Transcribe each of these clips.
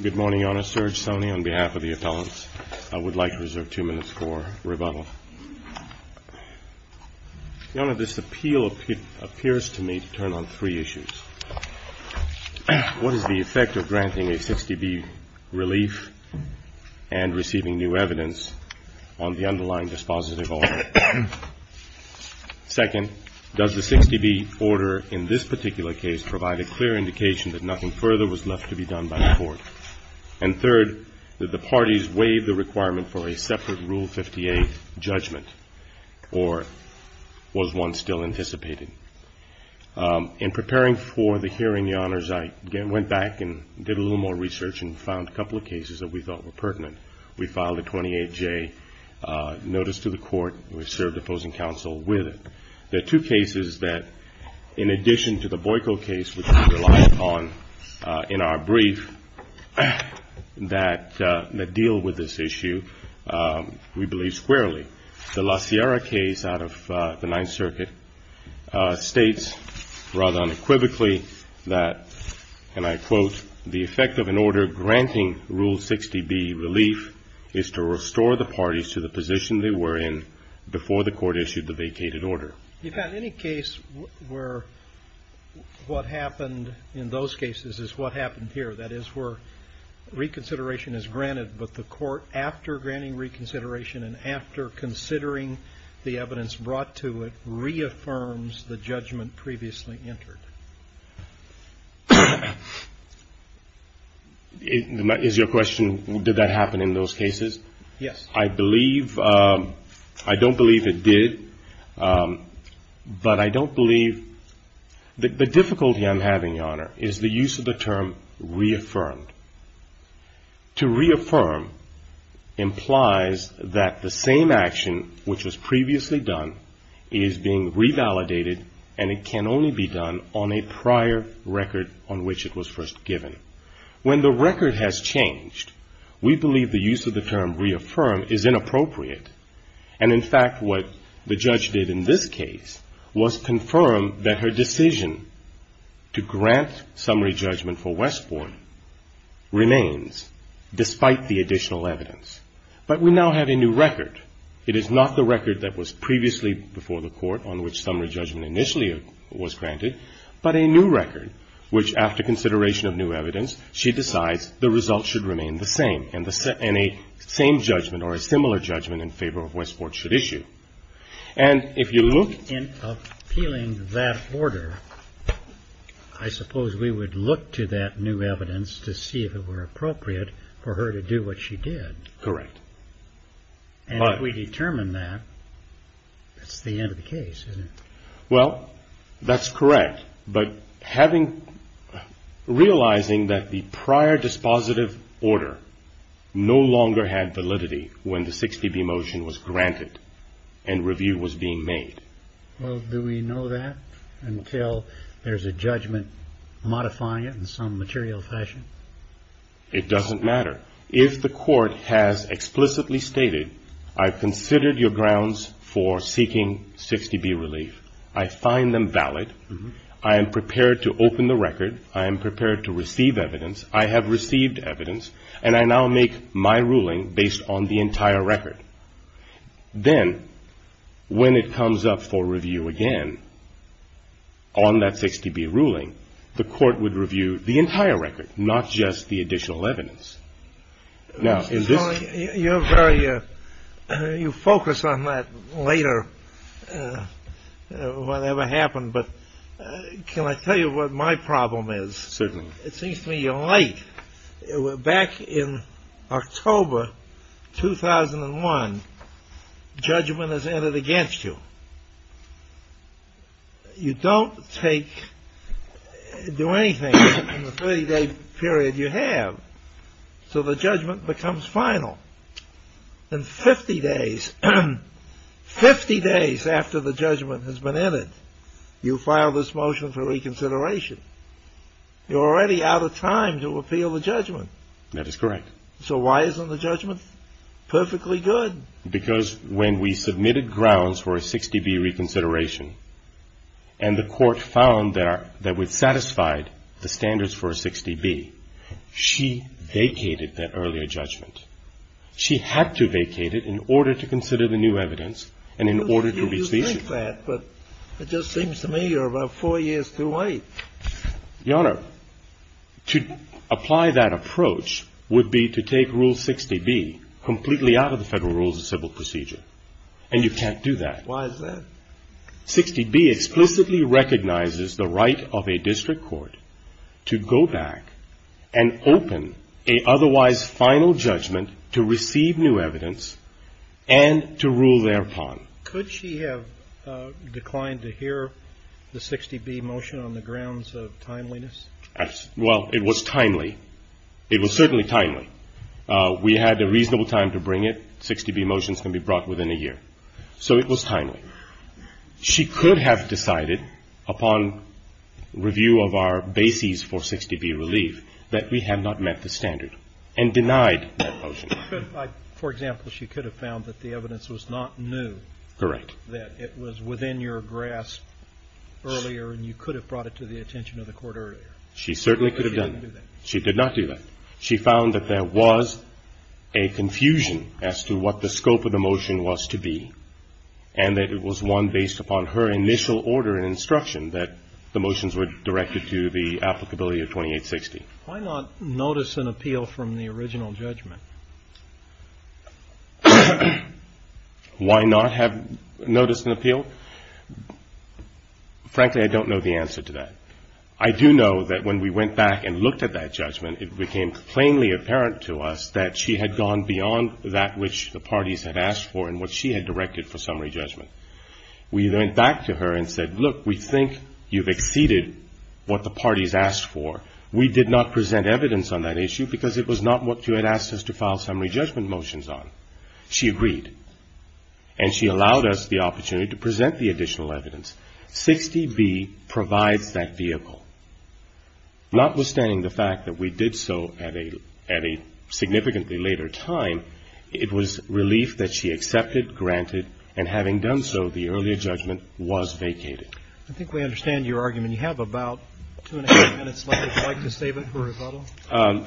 Good morning, Your Honor. Serge Soney on behalf of the appellants. I would like to reserve two minutes for rebuttal. Your Honor, this appeal appears to me to turn on three issues. One is the effect of granting a 60B relief and receiving new evidence on the underlying dispositive order. Second, does the 60B order in this particular case provide a clear indication that nothing further was left to be done by the court? And third, did the parties waive the requirement for a separate Rule 58 judgment, or was one still anticipated? In preparing for the hearing, Your Honors, I went back and did a little more research and found a couple of cases that we thought were pertinent. We filed a 28J notice to the court, and we served opposing counsel with it. There are two cases that, in addition to the Boyko case, which we relied upon in our brief, that deal with this issue, we believe, squarely. The La Sierra case out of the Ninth Circuit states, rather unequivocally, that, and I quote, the effect of an order granting Rule 60B relief is to restore the parties to the position they were in before the court issued the vacated order. If at any case where what happened in those cases is what happened here, that is, where reconsideration is granted, but the court, after granting reconsideration and after considering the evidence brought to it, reaffirms the judgment previously entered. Is your question, did that happen in those cases? Yes. I believe, I don't believe it did, but I don't believe, the difficulty I'm having, Your Honor, is the use of the term reaffirmed. To reaffirm implies that the same action which was previously done is being revalidated, and it can only be done on a prior record on which it was first given. When the record has changed, we believe the use of the term reaffirmed is inappropriate. And, in fact, what the judge did in this case was confirm that her decision to grant summary judgment for Westport remains, despite the additional evidence. But we now have a new record. It is not the record that was previously before the court on which summary judgment initially was granted, but a new record, which, after consideration of new evidence, she decides the result should remain the same, and a same judgment or a similar judgment in favor of Westport should issue. And if you look... In appealing that order, I suppose we would look to that new evidence to see if it were appropriate for her to do what she did. Correct. And if we determine that, that's the end of the case, isn't it? Well, that's correct. But realizing that the prior dispositive order no longer had validity when the 60B motion was granted and review was being made... Well, do we know that until there's a judgment modifying it in some material fashion? It doesn't matter. If the court has explicitly stated, I've considered your grounds for seeking 60B relief. I find them valid. I am prepared to open the record. I am prepared to receive evidence. I have received evidence, and I now make my ruling based on the entire record. Then, when it comes up for review again on that 60B ruling, the court would review the entire record, not just the additional evidence. Now, in this... You're very... You focus on that later, whatever happened, but can I tell you what my problem is? Certainly. It seems to me you're late. Back in October 2001, judgment is entered against you. You don't do anything in the 30-day period you have, so the judgment becomes final. In 50 days, 50 days after the judgment has been entered, you file this motion for reconsideration. You're already out of time to appeal the judgment. That is correct. So why isn't the judgment perfectly good? Because when we submitted grounds for a 60B reconsideration and the court found that it satisfied the standards for a 60B, she vacated that earlier judgment. She had to vacate it in order to consider the new evidence and in order to reach the issue. I don't believe that, but it just seems to me you're about four years too late. Your Honor, to apply that approach would be to take Rule 60B completely out of the Federal Rules of Civil Procedure, and you can't do that. Why is that? 60B explicitly recognizes the right of a district court to go back and open an otherwise final judgment to receive new evidence and to rule thereupon. Could she have declined to hear the 60B motion on the grounds of timeliness? Well, it was timely. It was certainly timely. We had a reasonable time to bring it. 60B motions can be brought within a year. So it was timely. She could have decided upon review of our bases for 60B relief that we had not met the standard and denied that motion. For example, she could have found that the evidence was not new. Correct. That it was within your grasp earlier and you could have brought it to the attention of the court earlier. She certainly could have done that. She did not do that. She found that there was a confusion as to what the scope of the motion was to be and that it was one based upon her initial order and instruction that the motions were directed to the applicability of 2860. Why not notice an appeal from the original judgment? Why not have notice and appeal? Frankly, I don't know the answer to that. I do know that when we went back and looked at that judgment, it became plainly apparent to us that she had gone beyond that which the parties had asked for and what she had directed for summary judgment. We went back to her and said, look, we think you've exceeded what the parties asked for. We did not present evidence on that issue because it was not what you had asked us to file summary judgment motions on. She agreed. And she allowed us the opportunity to present the additional evidence. 60B provides that vehicle. Notwithstanding the fact that we did so at a significantly later time, it was relief that she accepted, granted, and having done so, the earlier judgment was vacated. I think we understand your argument. You have about two and a half minutes left. Would you like to save it for rebuttal?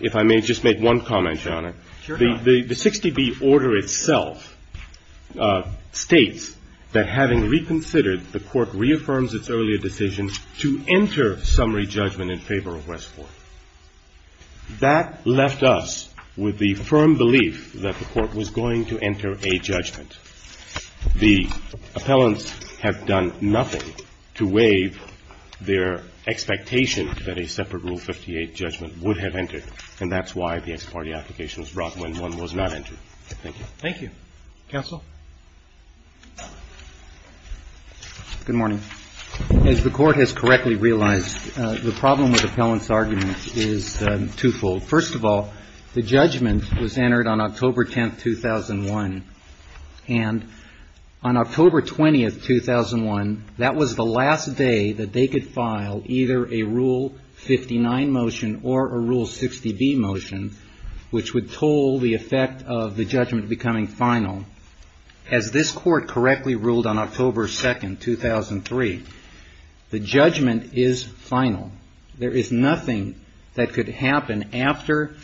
If I may just make one comment, Your Honor. Sure. The 60B order itself states that having reconsidered, the Court reaffirms its earlier decision to enter summary judgment in favor of Westport. That left us with the firm belief that the Court was going to enter a judgment. The appellants have done nothing to waive their expectation that a separate Rule 58 judgment would have entered. And that's why the ex parte application was brought when one was not entered. Thank you. Thank you. Counsel? Good morning. As the Court has correctly realized, the problem with appellant's argument is twofold. First of all, the judgment was entered on October 10th, 2001. And on October 20th, 2001, that was the last day that they could file either a Rule 59 motion or a Rule 60B motion, which would toll the effect of the judgment becoming final. As this Court correctly ruled on October 2nd, 2003, the judgment is final. There is nothing that could happen after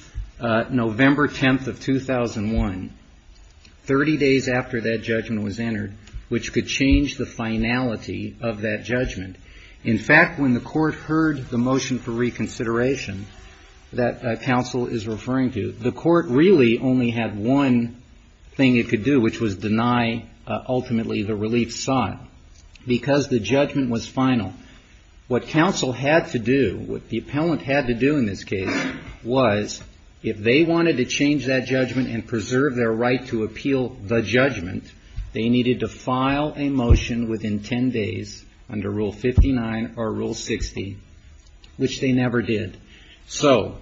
November 10th of 2001, 30 days after that judgment was entered, which could change the finality of that judgment. In fact, when the Court heard the motion for reconsideration that counsel is referring to, the Court really only had one thing it could do, which was deny ultimately the relief sought, because the judgment was final. What counsel had to do, what the appellant had to do in this case, was if they wanted to change that judgment and preserve their right to appeal the judgment, they needed to file a motion within 10 days under Rule 59 or Rule 60, which they never did. So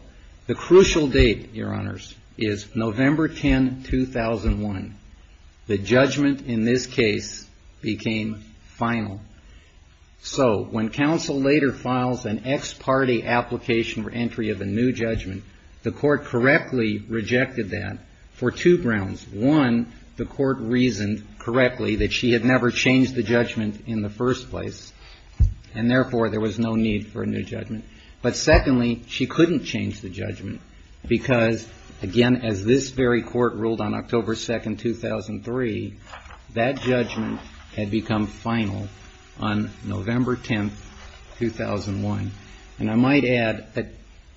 the crucial date, Your Honors, is November 10, 2001. The judgment in this case became final. So when counsel later files an ex parte application for entry of a new judgment, the Court correctly rejected that for two grounds. One, the Court reasoned correctly that she had never changed the judgment in the first place, and therefore, there was no need for a new judgment. But secondly, she couldn't change the judgment because, again, as this very Court ruled on October 2nd, 2003, that judgment had become final on November 10th, 2001. And I might add that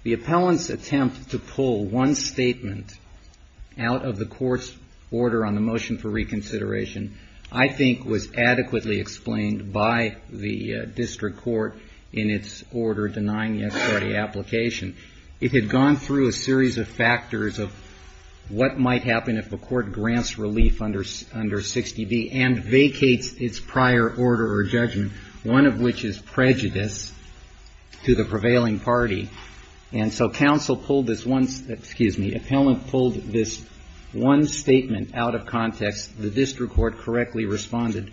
the appellant's attempt to pull one statement out of the Court's order on the motion for reconsideration, I think, was adequately explained by the district court in its order denying the ex parte application. It had gone through a series of factors of what might happen if the Court grants relief under 60B and vacates its prior order or judgment, one of which is prejudice to the prevailing party. And so counsel pulled this one, excuse me, appellant pulled this one statement out of context. The district court correctly responded.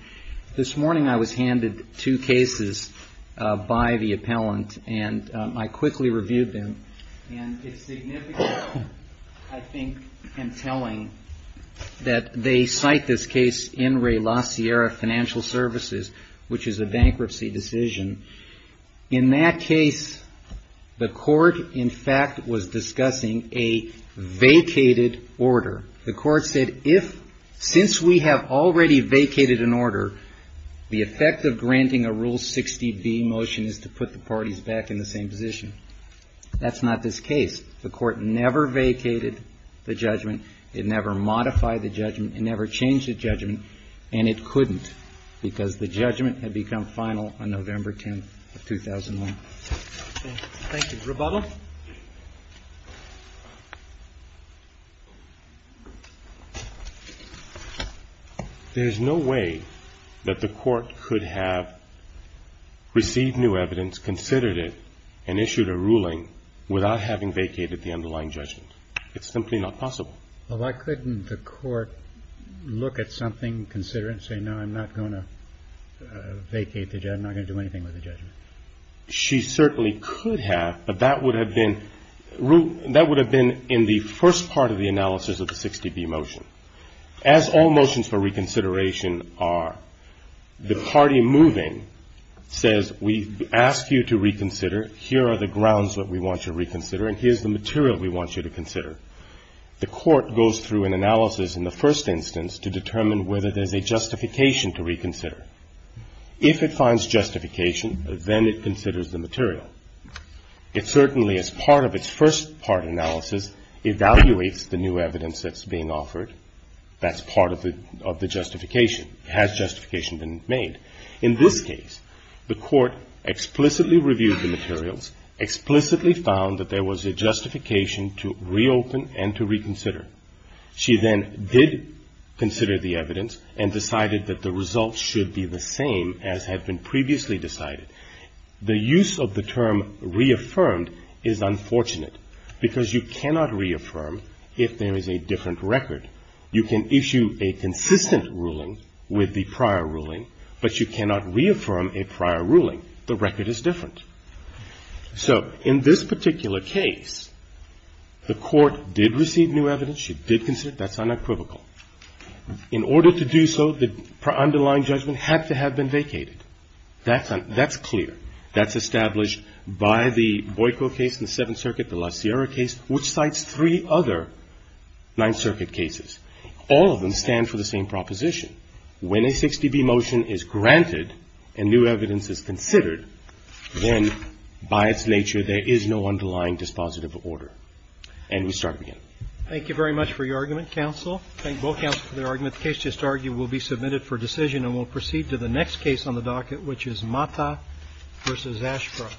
This morning I was handed two cases by the appellant and I quickly reviewed them. And it's significant, I think, in telling that they cite this case in Ray La Sierra Financial Services, which is a bankruptcy decision. In that case, the Court, in fact, was discussing a vacated order. The Court said if, since we have already vacated an order, the effect of granting a Rule 60B motion is to put the parties back in the same position. That's not this case. The Court never vacated the judgment. It never modified the judgment. It never changed the judgment. And it couldn't because the judgment had become final on November 10th, 2001. Thank you. Rebuttal? There's no way that the Court could have received new evidence, considered it, and issued a ruling without having vacated the underlying judgment. It's simply not possible. Well, why couldn't the Court look at something, consider it, and say, no, I'm not going to vacate the judgment, I'm not going to do anything with the judgment? She certainly could have, but that would have been in the first part of the analysis of the 60B motion. As all motions for reconsideration are, the party moving says, we ask you to reconsider, here are the grounds that we want you to reconsider, and here's the material we want you to consider. The Court goes through an analysis in the first instance to determine whether there's a justification to reconsider. If it finds justification, then it considers the material. It certainly, as part of its first part analysis, evaluates the new evidence that's being offered that's part of the justification. Has justification been made? In this case, the Court explicitly reviewed the materials, explicitly found that there was a justification to reopen and to reconsider. She then did consider the evidence and decided that the results should be the same as had been previously decided. The use of the term reaffirmed is unfortunate because you cannot reaffirm if there is a different record. You can issue a consistent ruling with the prior ruling, but you cannot reaffirm a prior ruling. The record is different. So in this particular case, the Court did receive new evidence. She did consider it. That's unequivocal. In order to do so, the underlying judgment had to have been vacated. That's clear. That's established by the Boiko case in the Seventh Circuit, the La Sierra case, which cites three other Ninth Circuit cases. All of them stand for the same proposition. When a 6dB motion is granted and new evidence is considered, then, by its nature, there is no underlying dispositive order. And we start again. Roberts. Thank you very much for your argument, counsel. Thank both counsels for their argument. The case just argued will be submitted for decision and will proceed to the next case on the docket, which is Mata v. Ashcroft.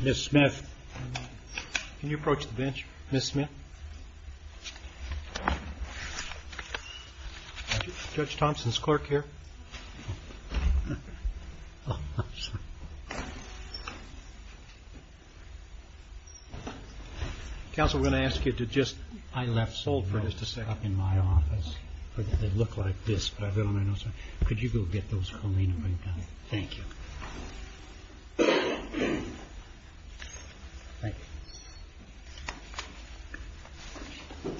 Ms. Smith, can you approach the bench? Ms. Smith? Judge Thompson's clerk here. Counsel, we're going to ask you to just... I've got a few cards in my office. They look like this, but I've got them on my notes. Could you go get those for me? Thank you. Thank you. Do you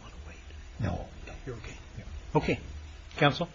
want to wait? No. You're OK. OK. Counsel?